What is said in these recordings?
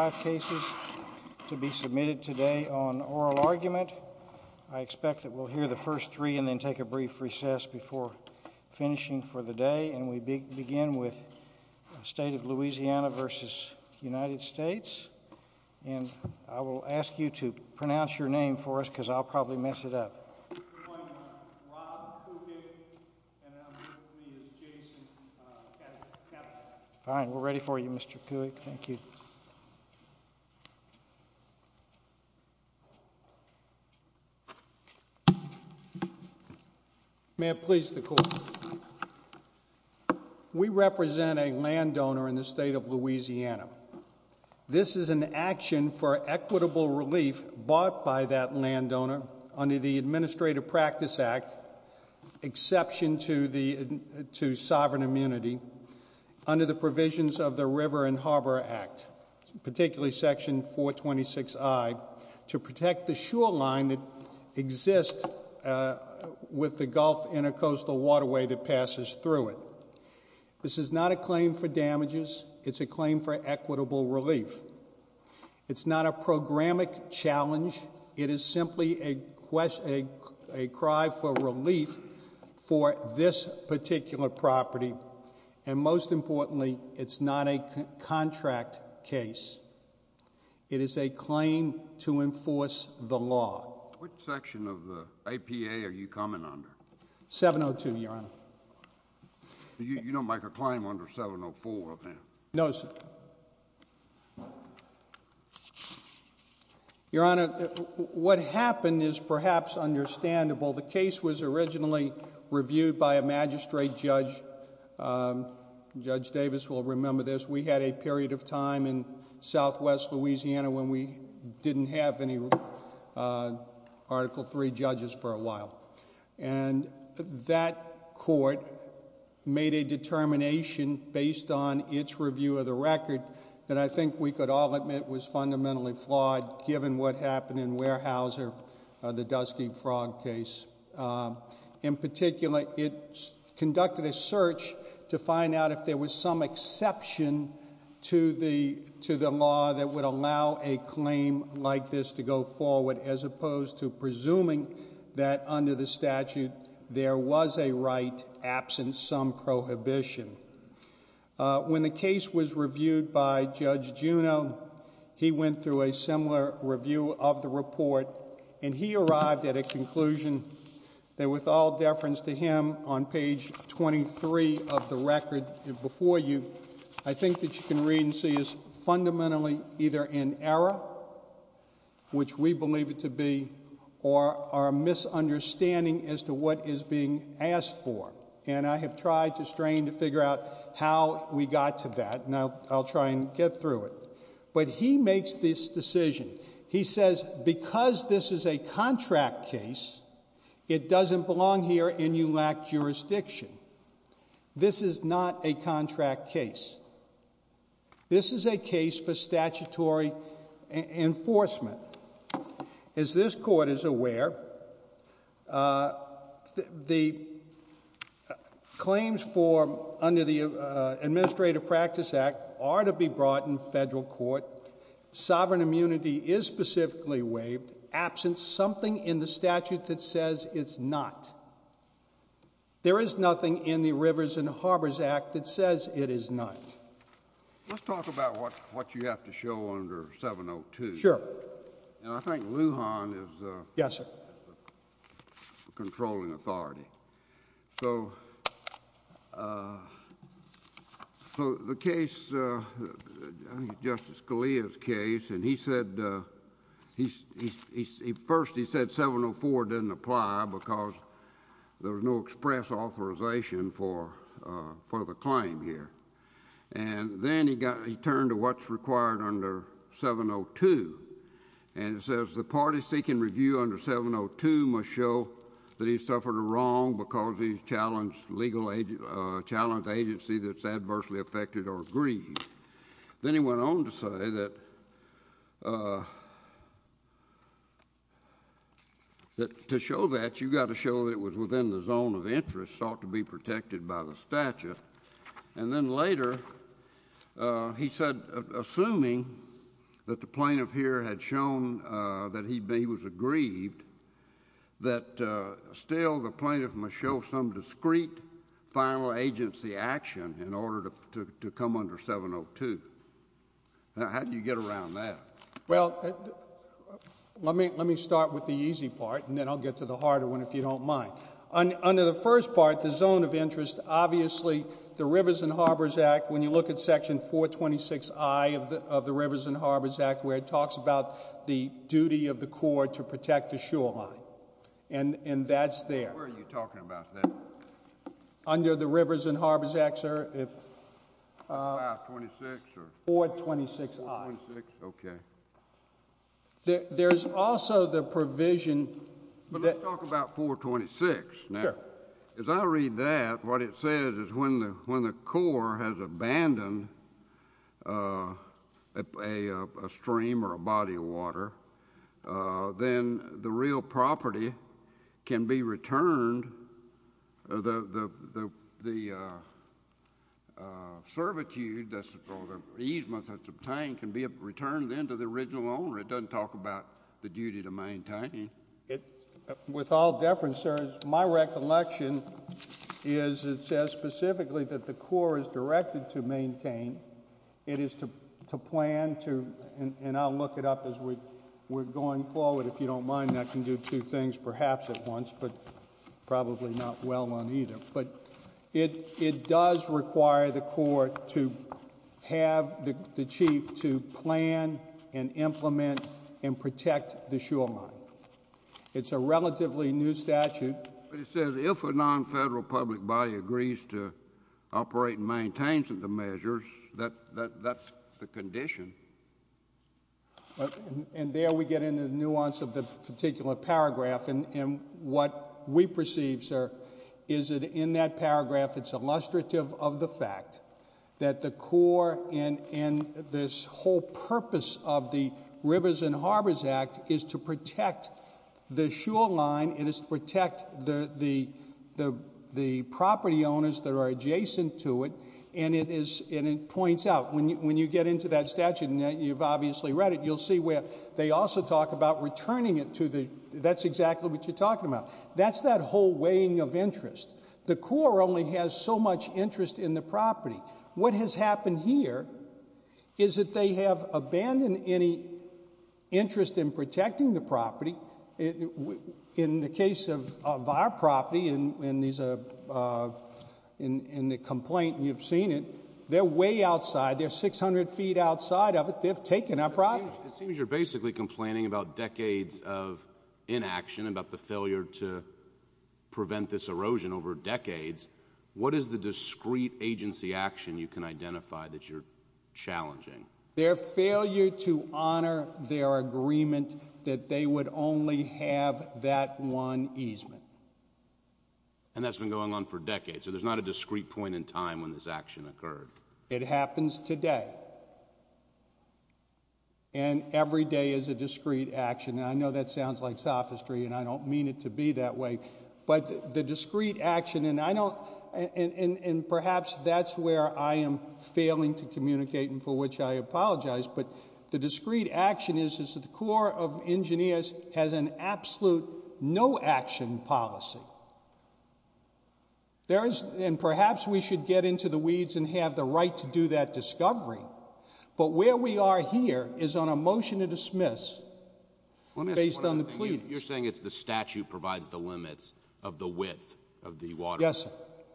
5 cases to be submitted today on oral argument. I expect that we'll hear the first three and then take a brief recess before finishing for the day. And we begin with State of Louisiana v. United States. And I will ask you to pronounce your name for us because I'll probably mess it up. Fine. We're ready for you, Mr. Cook. Thank you. May it please the court. We represent a landowner in the state of Louisiana. This is an action for equitable relief bought by that landowner under the Administrative Practice Act, exception to sovereign immunity, under the provisions of the River and Harbor Act, particularly Section 426I, to protect the shoreline that exists with the Gulf Intercoastal Waterway that passes through it. This is not a claim for damages. It's a claim for equitable relief. It's not a programmatic challenge. It is simply a cry for relief for this particular property. And most importantly, it's not a contract case. It is a claim to enforce the Your Honor, what happened is perhaps understandable. The case was originally reviewed by a magistrate judge. Judge Davis will remember this. We had a period of time in southwest Louisiana when we didn't have any Article III judges for a while. And that court made a determination based on its review of the record that I think we could all admit was fundamentally flawed given what happened in Weyerhaeuser, the Dusky Frog case. In particular, it conducted a search to find out if there was some exception to the law that would allow a claim like this to go forward as opposed to presuming that under the statute there was a right absent some prohibition. When the case was reviewed by Judge Juneau, he went through a similar review of the report, and he arrived at a conclusion that with all deference to him on page 23 of the record before you, I think that you can read and see is fundamentally either in error, which we believe it to be, or a misunderstanding as to what is being asked for. And I have tried to strain to figure out how we got to that, and I'll try and get through it. But he makes this decision. He says, because this is a contract case, it doesn't belong here and you lack jurisdiction. This is not a contract case. This is a case for statutory enforcement. As this Court is aware, the claims for under the Administrative Practice Act are to be brought in federal court. Sovereign immunity is specifically waived absent something in the statute that says it's not. There is nothing in the Rivers and Harbors Act that says it is not. Let's talk about what you have to show under 702. Sure. And I think Lujan is the controlling authority. So the case, Justice Scalia's case, and he said, first he said 704 doesn't apply because there's no express authorization for the claim here. And then he turned to what's required under 702, and it says the party seeking review under 702 must show that he's suffered a wrong because he's challenged agency that's adversely affected or aggrieved. Then he went on to say that to show that, you've got to show that it was within the zone of interest sought to be protected by the statute. And then later, he said, assuming that the plaintiff here had shown that he was aggrieved, that still the plaintiff must show some discreet final agency action in order to come under 702. Now, how do you get around that? Well, let me start with the easy part, and then I'll get to the harder one if you don't mind. Under the first part, the zone of interest, obviously, the Rivers and Harbors Act, when you look at Section 426I of the Rivers and Harbors Act, where it talks about the duty of the Corps to protect the shoreline, and that's there. Where are you talking about that? Under the Rivers and Harbors Act, sir. 526 or? 426I. 426, okay. There's also the provision that— But let's talk about 426. Sure. Now, as I read that, what it says is when the Corps has abandoned a stream or a body of water, then the real property can be returned—the servitude or the easement that's obtained can be returned then to the original owner. It doesn't talk about the duty to maintain. With all deference, sir, my recollection is it says specifically that the Corps is directed to maintain. It is to plan to—and I'll look it up as we're going forward. If you don't mind, I can do two things, perhaps, at once, but probably not well on either. But it does require the Corps to have the Chief to plan and implement and protect the shoreline. It's a relatively new statute. But it says if a non-federal public body agrees to operate and maintain some of the measures, that's the condition. And there we get into the nuance of the particular paragraph. And what we perceive, sir, is that in that paragraph, it's illustrative of the fact that the Corps and this whole purpose of the Rivers and Harbors Act is to protect the shoreline. It is to protect the property owners that are adjacent to it. And it points out, when you get into that statute, and you've obviously read it, you'll see where they also talk about returning it to the—that's exactly what you're talking about. That's that whole weighing of interest. The Corps only has so much interest in the property. What has happened here is that they have abandoned any interest in protecting the property. In the case of our property, in these—in the complaint, you've seen it, they're way outside. They're 600 feet outside of it. They've taken our property. It seems you're basically complaining about decades of inaction, about the failure to prevent this erosion over decades. What is the discrete agency action you can identify that you're challenging? Their failure to honor their agreement that they would only have that one easement. And that's been going on for decades. So there's not a discrete point in time when this action occurred. It happens today. And every day is a discrete action. And I know that sounds like sophistry and I don't mean it to be that way. But the discrete action—and I don't—and perhaps that's where I am failing to communicate and for which I apologize. But the discrete action is that the Corps of Engineers has an absolute no-action policy. There is—and perhaps we should get into the weeds and have the right to do that discovery. But where we are here is on a motion to dismiss based on the pleadings. You're saying it's the statute provides the limits of the width of the waterway. Yes, sir.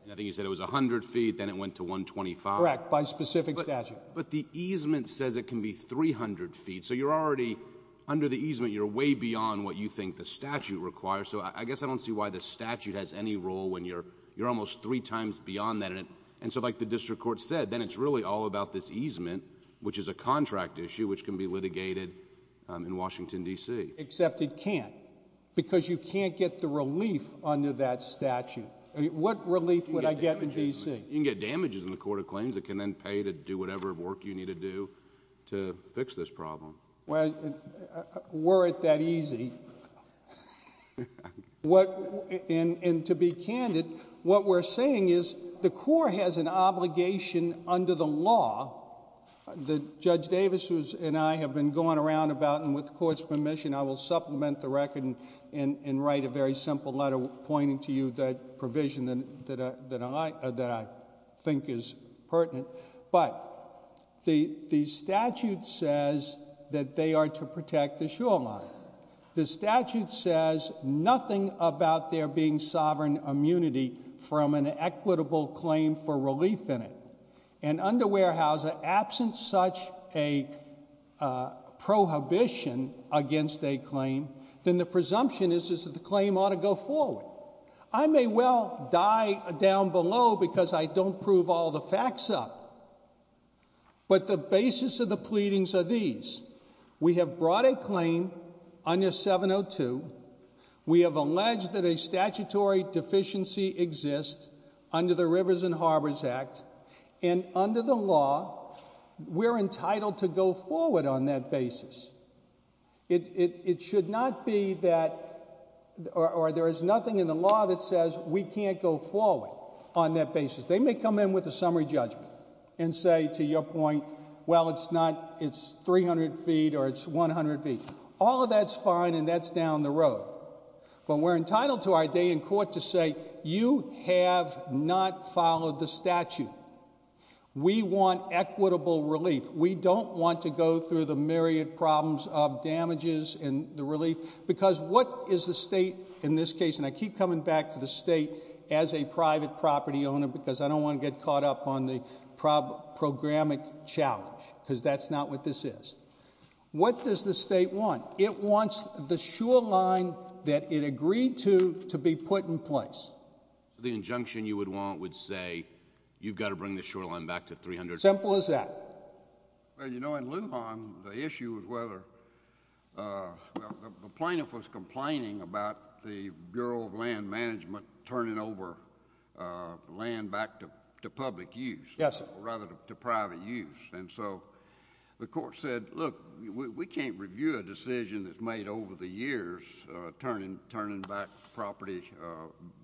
And I think you said it was 100 feet, then it went to 125. Correct, by specific statute. But the easement says it can be 300 feet. So you're already—under the easement, you're way beyond what you think the statute requires. So I guess I don't see why the statute has any role when you're almost three times beyond that. And so like the district court said, then it's really all about this easement, which is a contract issue which can be litigated in Washington, D.C. Except it can't, because you can't get the relief under that statute. What relief would I get in D.C.? You can get damages in the court of claims that can then pay to do whatever work you need to do to fix this problem. Well, were it that easy—and to be candid, what we're saying is the Corps has an obligation under the law that Judge Davis and I have been going around about, and with the Court's permission, I will supplement the record and write a very simple letter pointing to you that provision that I think is pertinent. But the statute says that they are to protect the shoreline. The statute says nothing about there being sovereign immunity from an equitable claim for relief in it. And under Weyerhaeuser, absent such a prohibition against the shoreline, against a claim, then the presumption is that the claim ought to go forward. I may well die down below because I don't prove all the facts up. But the basis of the pleadings are these. We have brought a claim under 702. We have alleged that a statutory deficiency exists under the Rivers and Harbors Act. And under the law, we're entitled to go forward on that basis. It should not be that—or there is nothing in the law that says we can't go forward on that basis. They may come in with a summary judgment and say, to your point, well, it's not—it's 300 feet or it's 100 feet. All of that's fine, and that's down the road. But we're entitled to our day in court to say, you have not followed the statute. We want equitable relief. We don't want to go through the myriad problems of damages and the relief. Because what is the state in this case—and I keep coming back to the state as a private property owner because I don't want to get caught up on the programmatic challenge, because that's not what this is. What does the state want? It wants the shoreline that it agreed to to be put in place. The injunction you would want would say, you've got to bring the shoreline back to 300 feet. Simple as that. Well, you know, in Lujan, the issue was whether—well, the plaintiff was complaining about the Bureau of Land Management turning over land back to public use— Yes, sir. —or rather to private use. And so the court said, look, we can't review a decision that's turned over land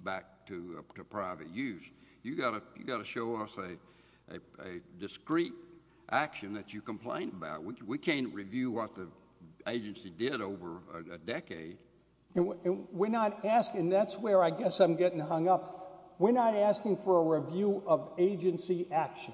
back to private use. You've got to show us a discreet action that you complained about. We can't review what the agency did over a decade. We're not asking—and that's where I guess I'm getting hung up. We're not asking for a review of agency action.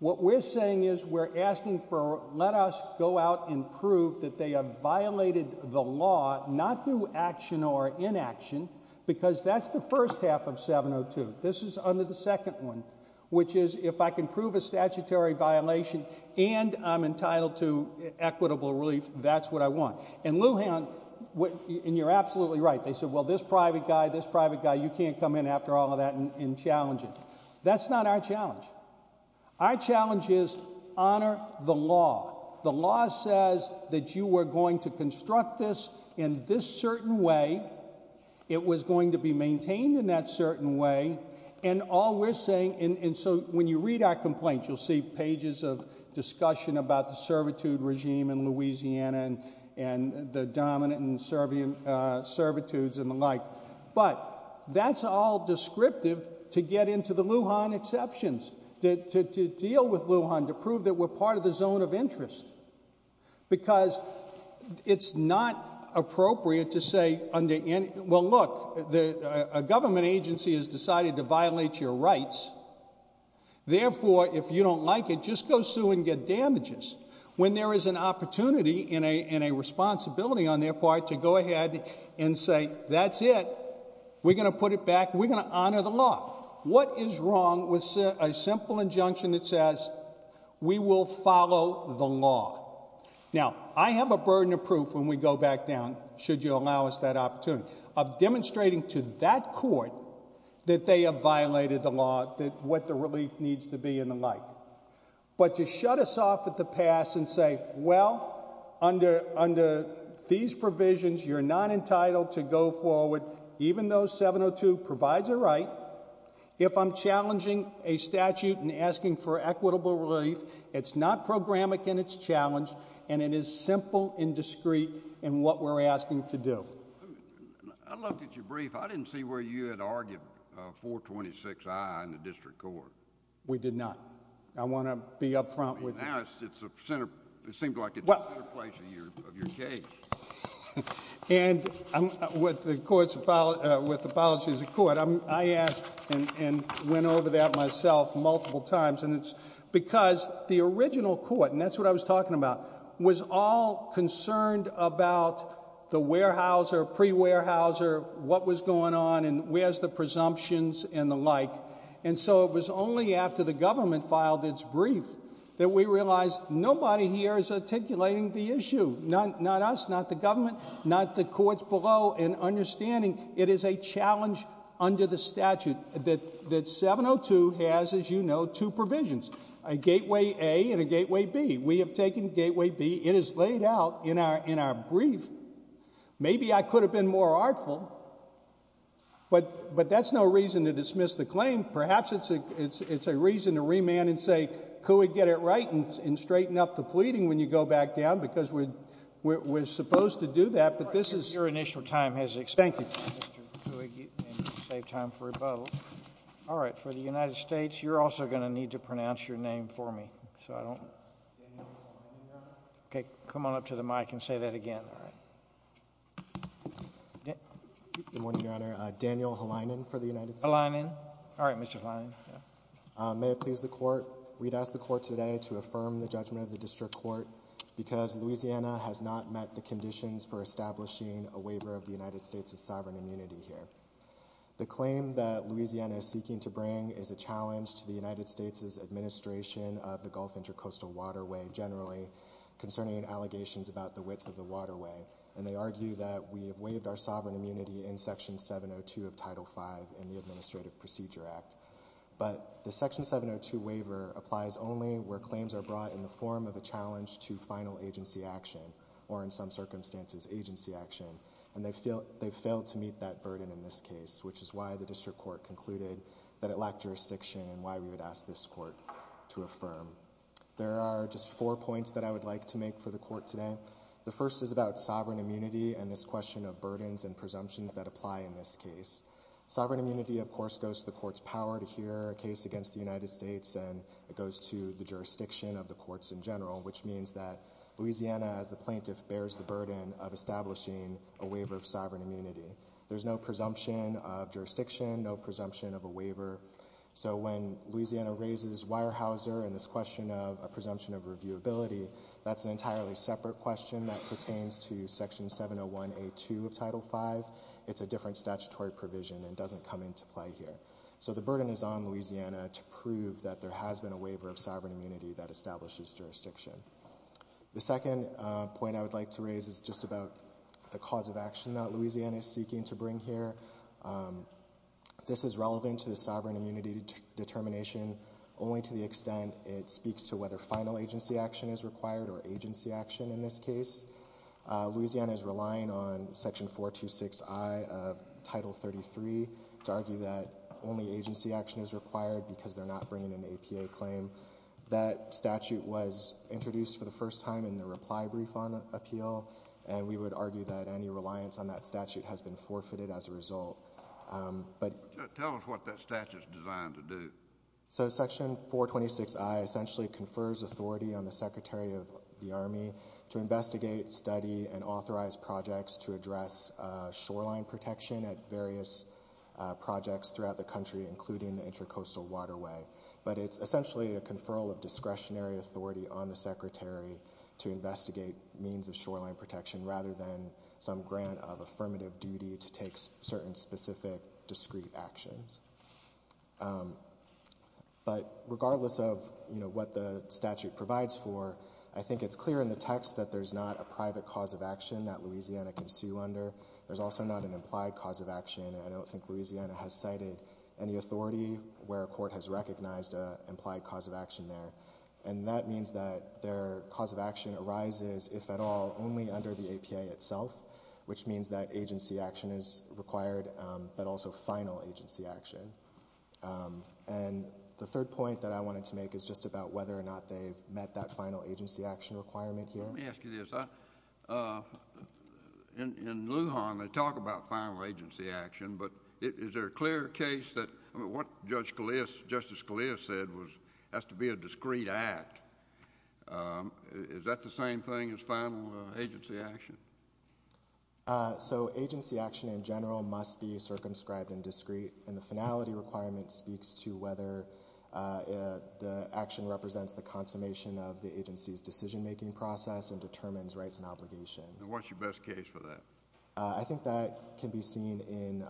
What we're saying is we're asking for—let us go out and prove that they have violated the law, not through action or inaction, because that's the first half of 702. This is under the second one, which is if I can prove a statutory violation and I'm entitled to equitable relief, that's what I want. In Lujan—and you're absolutely right. They said, well, this private guy, this private guy, you can't come in after all of that and challenge it. That's not our challenge. Our law says that you were going to construct this in this certain way. It was going to be maintained in that certain way. And all we're saying—and so when you read our complaints, you'll see pages of discussion about the servitude regime in Louisiana and the dominant servitudes and the like. But that's all descriptive to get into the Lujan exceptions, to deal with Lujan, to prove that we're part of the zone of interest, because it's not appropriate to say under any—well, look, a government agency has decided to violate your rights. Therefore, if you don't like it, just go sue and get damages. When there is an opportunity and a responsibility on their part to go ahead and say, that's it, we're going to put it back, we're going to you will follow the law. Now, I have a burden of proof when we go back down, should you allow us that opportunity, of demonstrating to that court that they have violated the law, what the relief needs to be and the like. But to shut us off at the pass and say, well, under these provisions, you're not entitled to go forward, even though 702 provides a right, if I'm challenging a It's not programmatic in its challenge, and it is simple and discreet in what we're asking to do. I looked at your brief. I didn't see where you had argued 426i in the district court. We did not. I want to be up front with you. Now, it's a center—it seems like it's the center place of your case. And with the court's—with apologies to the court, I asked and went over that myself multiple times, and it's because the original court, and that's what I was talking about, was all concerned about the warehouser, pre-warehouser, what was going on and where's the presumptions and the like. And so it was only after the government filed its brief that we realized nobody here is articulating the issue, not us, not the government, not the courts below, and understanding it is a challenge under the statute that 702 has, as you know, two provisions, a gateway A and a gateway B. We have taken gateway B. It is laid out in our brief. Maybe I could have been more artful, but that's no reason to dismiss the claim. Perhaps it's a reason to remand and say, could we get it right and straighten up the pleading when you go back down, because we're supposed to do that, but this is— All right, for the United States, you're also going to need to pronounce your name for me. So I don't— Daniel Helinen, Your Honor. Okay. Come on up to the mic and say that again. All right. Good morning, Your Honor. Daniel Helinen for the United States. Helinen. All right, Mr. Helinen. May it please the Court. We'd ask the Court today to affirm the judgment of the District Court because Louisiana has not met the conditions for establishing a waiver of the United States' sovereign immunity here. The claim that Louisiana is seeking to bring is a challenge to the United States' administration of the Gulf Intercoastal Waterway generally concerning allegations about the width of the waterway, and they argue that we have waived our sovereign immunity in Section 702 of Title V in the Administrative Procedure Act. But the Section 702 waiver applies only where claims are brought in the form of a challenge to final agency action or, in some circumstances, agency action, and they've failed to meet that burden in this case, which is why the District Court concluded that it lacked jurisdiction and why we would ask this Court to affirm. There are just four points that I would like to make for the Court today. The first is about sovereign immunity and this question of burdens and presumptions that apply in this case. Sovereign immunity, of course, goes to the Court's power to hear a case against the United States, and it goes to the jurisdiction of the courts in general, which means that Louisiana, as the plaintiff, bears the burden of establishing a waiver of sovereign immunity. There's no presumption of jurisdiction, no presumption of a waiver. So when Louisiana raises Weyerhaeuser and this question of a presumption of reviewability, that's an entirely separate question that pertains to Section 701A2 of Title V. It's a different statutory provision and doesn't come into play here. So the burden is on Louisiana to prove that there has been a waiver of sovereign immunity that establishes jurisdiction. The second point I would like to raise is just about the cause of action that Louisiana is seeking to bring here. This is relevant to the sovereign immunity determination only to the extent it speaks to whether final agency action is required or agency action in this case. Louisiana is relying on Section 426I of Title 33 to argue that only agency action is required because they're not bringing an APA claim. That statute was introduced for the first time in the reply brief on appeal, and we would argue that any reliance on that statute has been forfeited as a result. Tell us what that statute is designed to do. So Section 426I essentially confers authority on the Secretary of the Army to investigate, study, and authorize projects to address shoreline protection at various projects throughout the country, including the Intracoastal Waterway. But it's essentially a conferral of discretionary authority on the Secretary to investigate means of shoreline protection rather than some grant of affirmative duty to take certain specific discreet actions. But regardless of what the statute provides for, I think it's clear in the text that there's not a private cause of action that Louisiana can sue under. There's also not an implied cause of action, and I don't think Louisiana has cited any recognized implied cause of action there. And that means that their cause of action arises, if at all, only under the APA itself, which means that agency action is required, but also final agency action. And the third point that I wanted to make is just about whether or not they've met that final agency action requirement here. Let me ask you this. In Lujan, they talk about final agency action, but is there a clear case that—I mean, what Justice Scalia said has to be a discreet act. Is that the same thing as final agency action? So agency action in general must be circumscribed and discreet, and the finality requirement speaks to whether the action represents the consummation of the agency's decision-making process and determines rights and obligations. And what's your best case for that? I think that can be seen in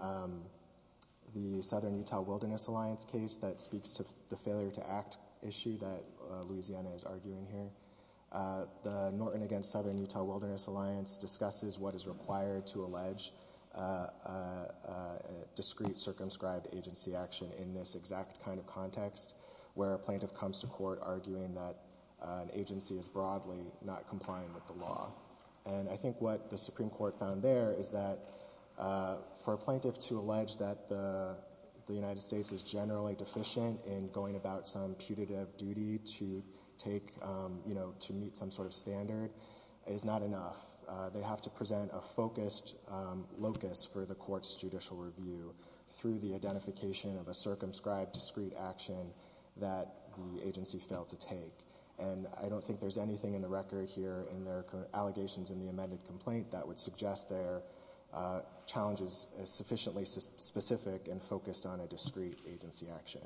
the Southern Utah Wilderness Alliance case that speaks to the failure-to-act issue that Louisiana is arguing here. The Norton v. Southern Utah Wilderness Alliance discusses what is required to allege discreet circumscribed agency action in this exact kind of context, where a plaintiff comes to court arguing that an agency is broadly not complying with the law. And I think what the Supreme Court found there is that for a plaintiff to allege that the United States is generally deficient in going about some putative duty to take, you know, to meet some sort of standard is not enough. They have to present a focused locus for the court's judicial review through the identification of a circumscribed discreet action that the agency failed to take. And I don't think there's anything in the record here in their allegations in the amended complaint that would suggest their challenge is sufficiently specific and focused on a discreet agency action.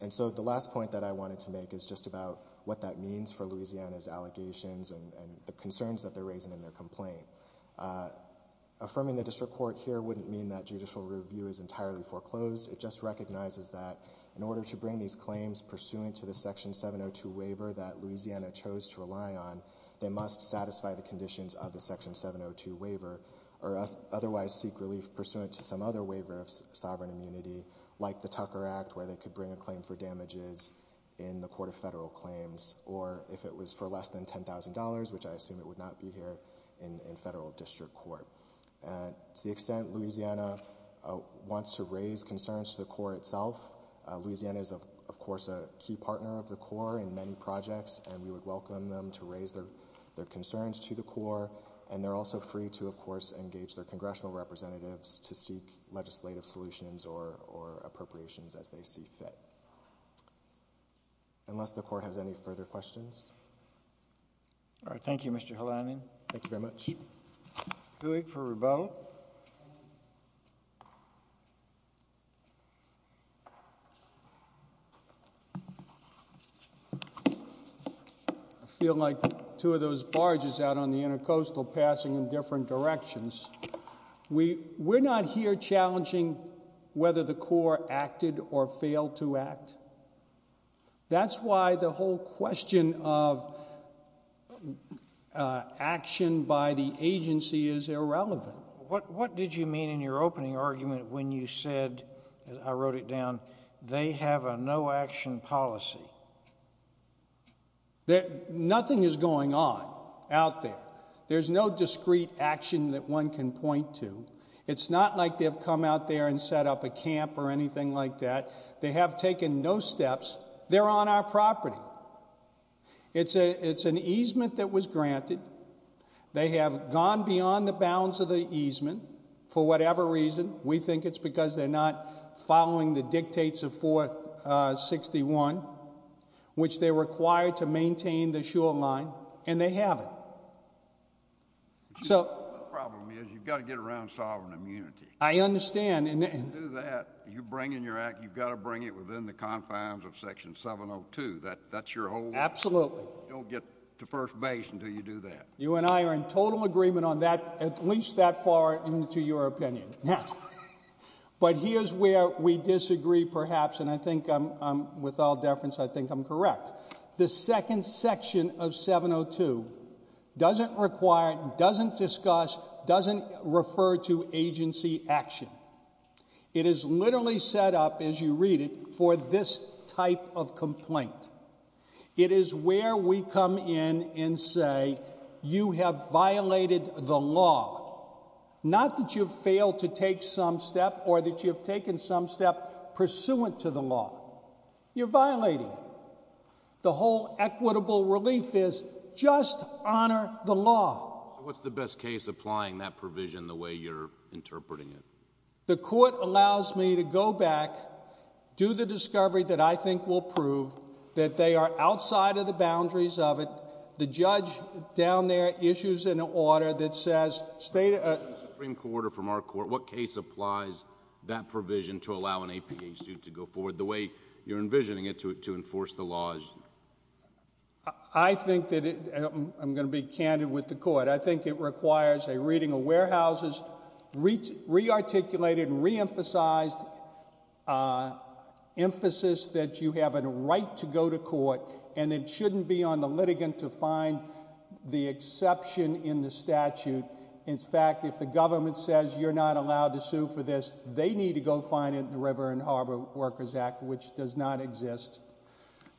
And so the last point that I wanted to make is just about what that means for Louisiana's allegations and the concerns that they're raising in their complaint. Affirming the district court here wouldn't mean that judicial review is entirely foreclosed. It just recognizes that in order to bring these claims pursuant to the Section 702 waiver that Louisiana chose to rely on, they must satisfy the conditions of the Section 702 waiver or otherwise seek relief pursuant to some other waiver of sovereign immunity, like the Tucker Act, where they could bring a claim for damages in the court of federal claims or if it was for less than $10,000, which I assume it would not be here in federal district court. To the extent Louisiana wants to raise concerns to the court itself, Louisiana is of course a key partner of the court in many projects and we would welcome them to raise their concerns to the court and they're also free to, of course, engage their congressional representatives to seek legislative solutions or appropriations as they see fit. Unless the court has any further questions? All right. Thank you, Mr. Helanian. Thank you very much. Dewey for rebuttal. I feel like two of those barges out on the intercoastal passing in different directions. We're not here challenging whether the court acted or failed to act. That's why the whole question of action by the agency is irrelevant. What did you mean in your opening argument when you said, I wrote it down, they have a no action policy? Nothing is going on out there. There's no discrete action that one can point to. It's not like they've come out there and set up a camp or anything like that. They have taken no steps. They're on our property. It's an easement that was granted. They have gone beyond the bounds of the easement for whatever reason. We think it's because they're not following the dictates of 461, which they're required to maintain the shoreline and they haven't. So the problem is you've got to get around sovereign immunity. I understand. If you do that, you bring in your act, you've got to bring it within the confines of Section 702. That's your whole... Absolutely. You don't get to first base until you do that. You and I are in total agreement on that, at least that far into your opinion. But here's where we disagree perhaps, and I think with all deference, I think I'm correct. The second section of 702 doesn't require, doesn't discuss, doesn't refer to agency action. It is literally set up, as you read it, for this type of complaint. It is where we come in and say, you have violated the law. Not that you've failed to take some step or that you've taken some step pursuant to the law. You're violating it. The whole equitable relief is just honor the law. What's the best case applying that provision the way you're interpreting it? The court allows me to go back, do the discovery that I think will prove that they are outside of the boundaries of it. The judge down there issues an order that says state... Supreme Court, or from our court, what case applies that provision to allow an APA student to go forward the way you're envisioning it to enforce the laws? I think that, I'm going to be candid with the court, I think it requires a reading of warehouses, re-articulated and re-emphasized emphasis that you have a right to go to court and it shouldn't be on the litigant to find the exception in the statute. In fact, if the government says you're not allowed to sue for this, they need to go find the River and Harbor Workers Act, which does not exist.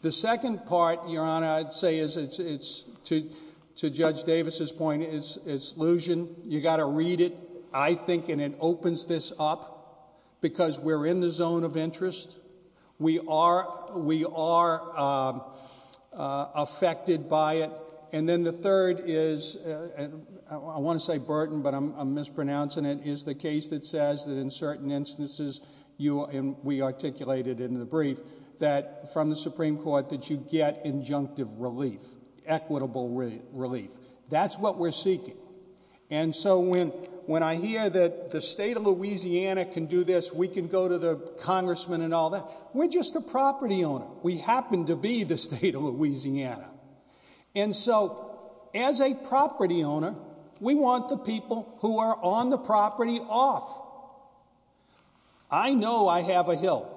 The second part, Your Honor, I'd say is, to Judge Davis' point, is illusion. You got to read it, I think, and it opens this up because we're in the zone of interest. We are affected by it. And then the third is, I want to say burden, but I'm mispronouncing it, is the case that says that in certain instances, we articulated in the brief, that from the Supreme Court that you get injunctive relief, equitable relief. That's what we're seeking. And so when I hear that the state of Louisiana can do this, we can go to the congressman and all that, we're just a property owner. We happen to be the state of Louisiana. And so, as a property owner, we want the people who are on the property off. I know I have a hill,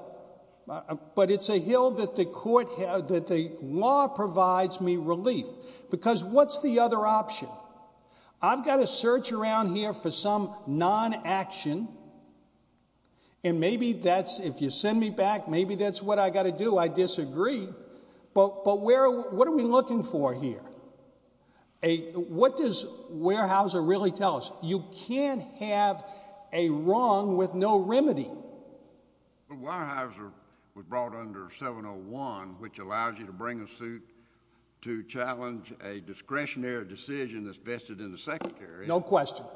but it's a hill that the law provides me relief. Because what's the other option? I've got to search around here for some non-action, and maybe that's, if you send me back, maybe that's what I've got to do, I disagree. But what are we looking for here? What does Weyerhaeuser really tell us? You can't have a wrong with no remedy. But Weyerhaeuser was brought under 701, which allows you to bring a suit to challenge a discretionary decision that's vested in the secretary. No question.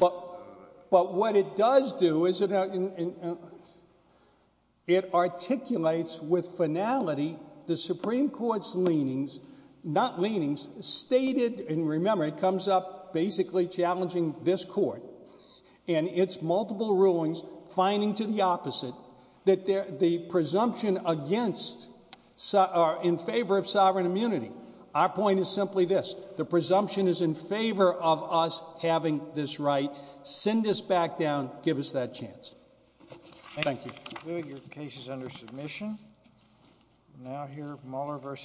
But what it does do is it articulates with finality the Supreme Court's leanings, not leanings, stated, and remember, it comes up basically challenging this court, and its multiple rulings, finding to the opposite, that the presumption against, in favor of the Supreme Court, is not just a question of the Supreme Court's decision, it's a question of the Supreme Court's decision, and you can't go back and argue that you can't make this right. Send this back down, give us that chance. Thank you. Thank you. Your case is under submission. Thank you. Thank you. Thank you.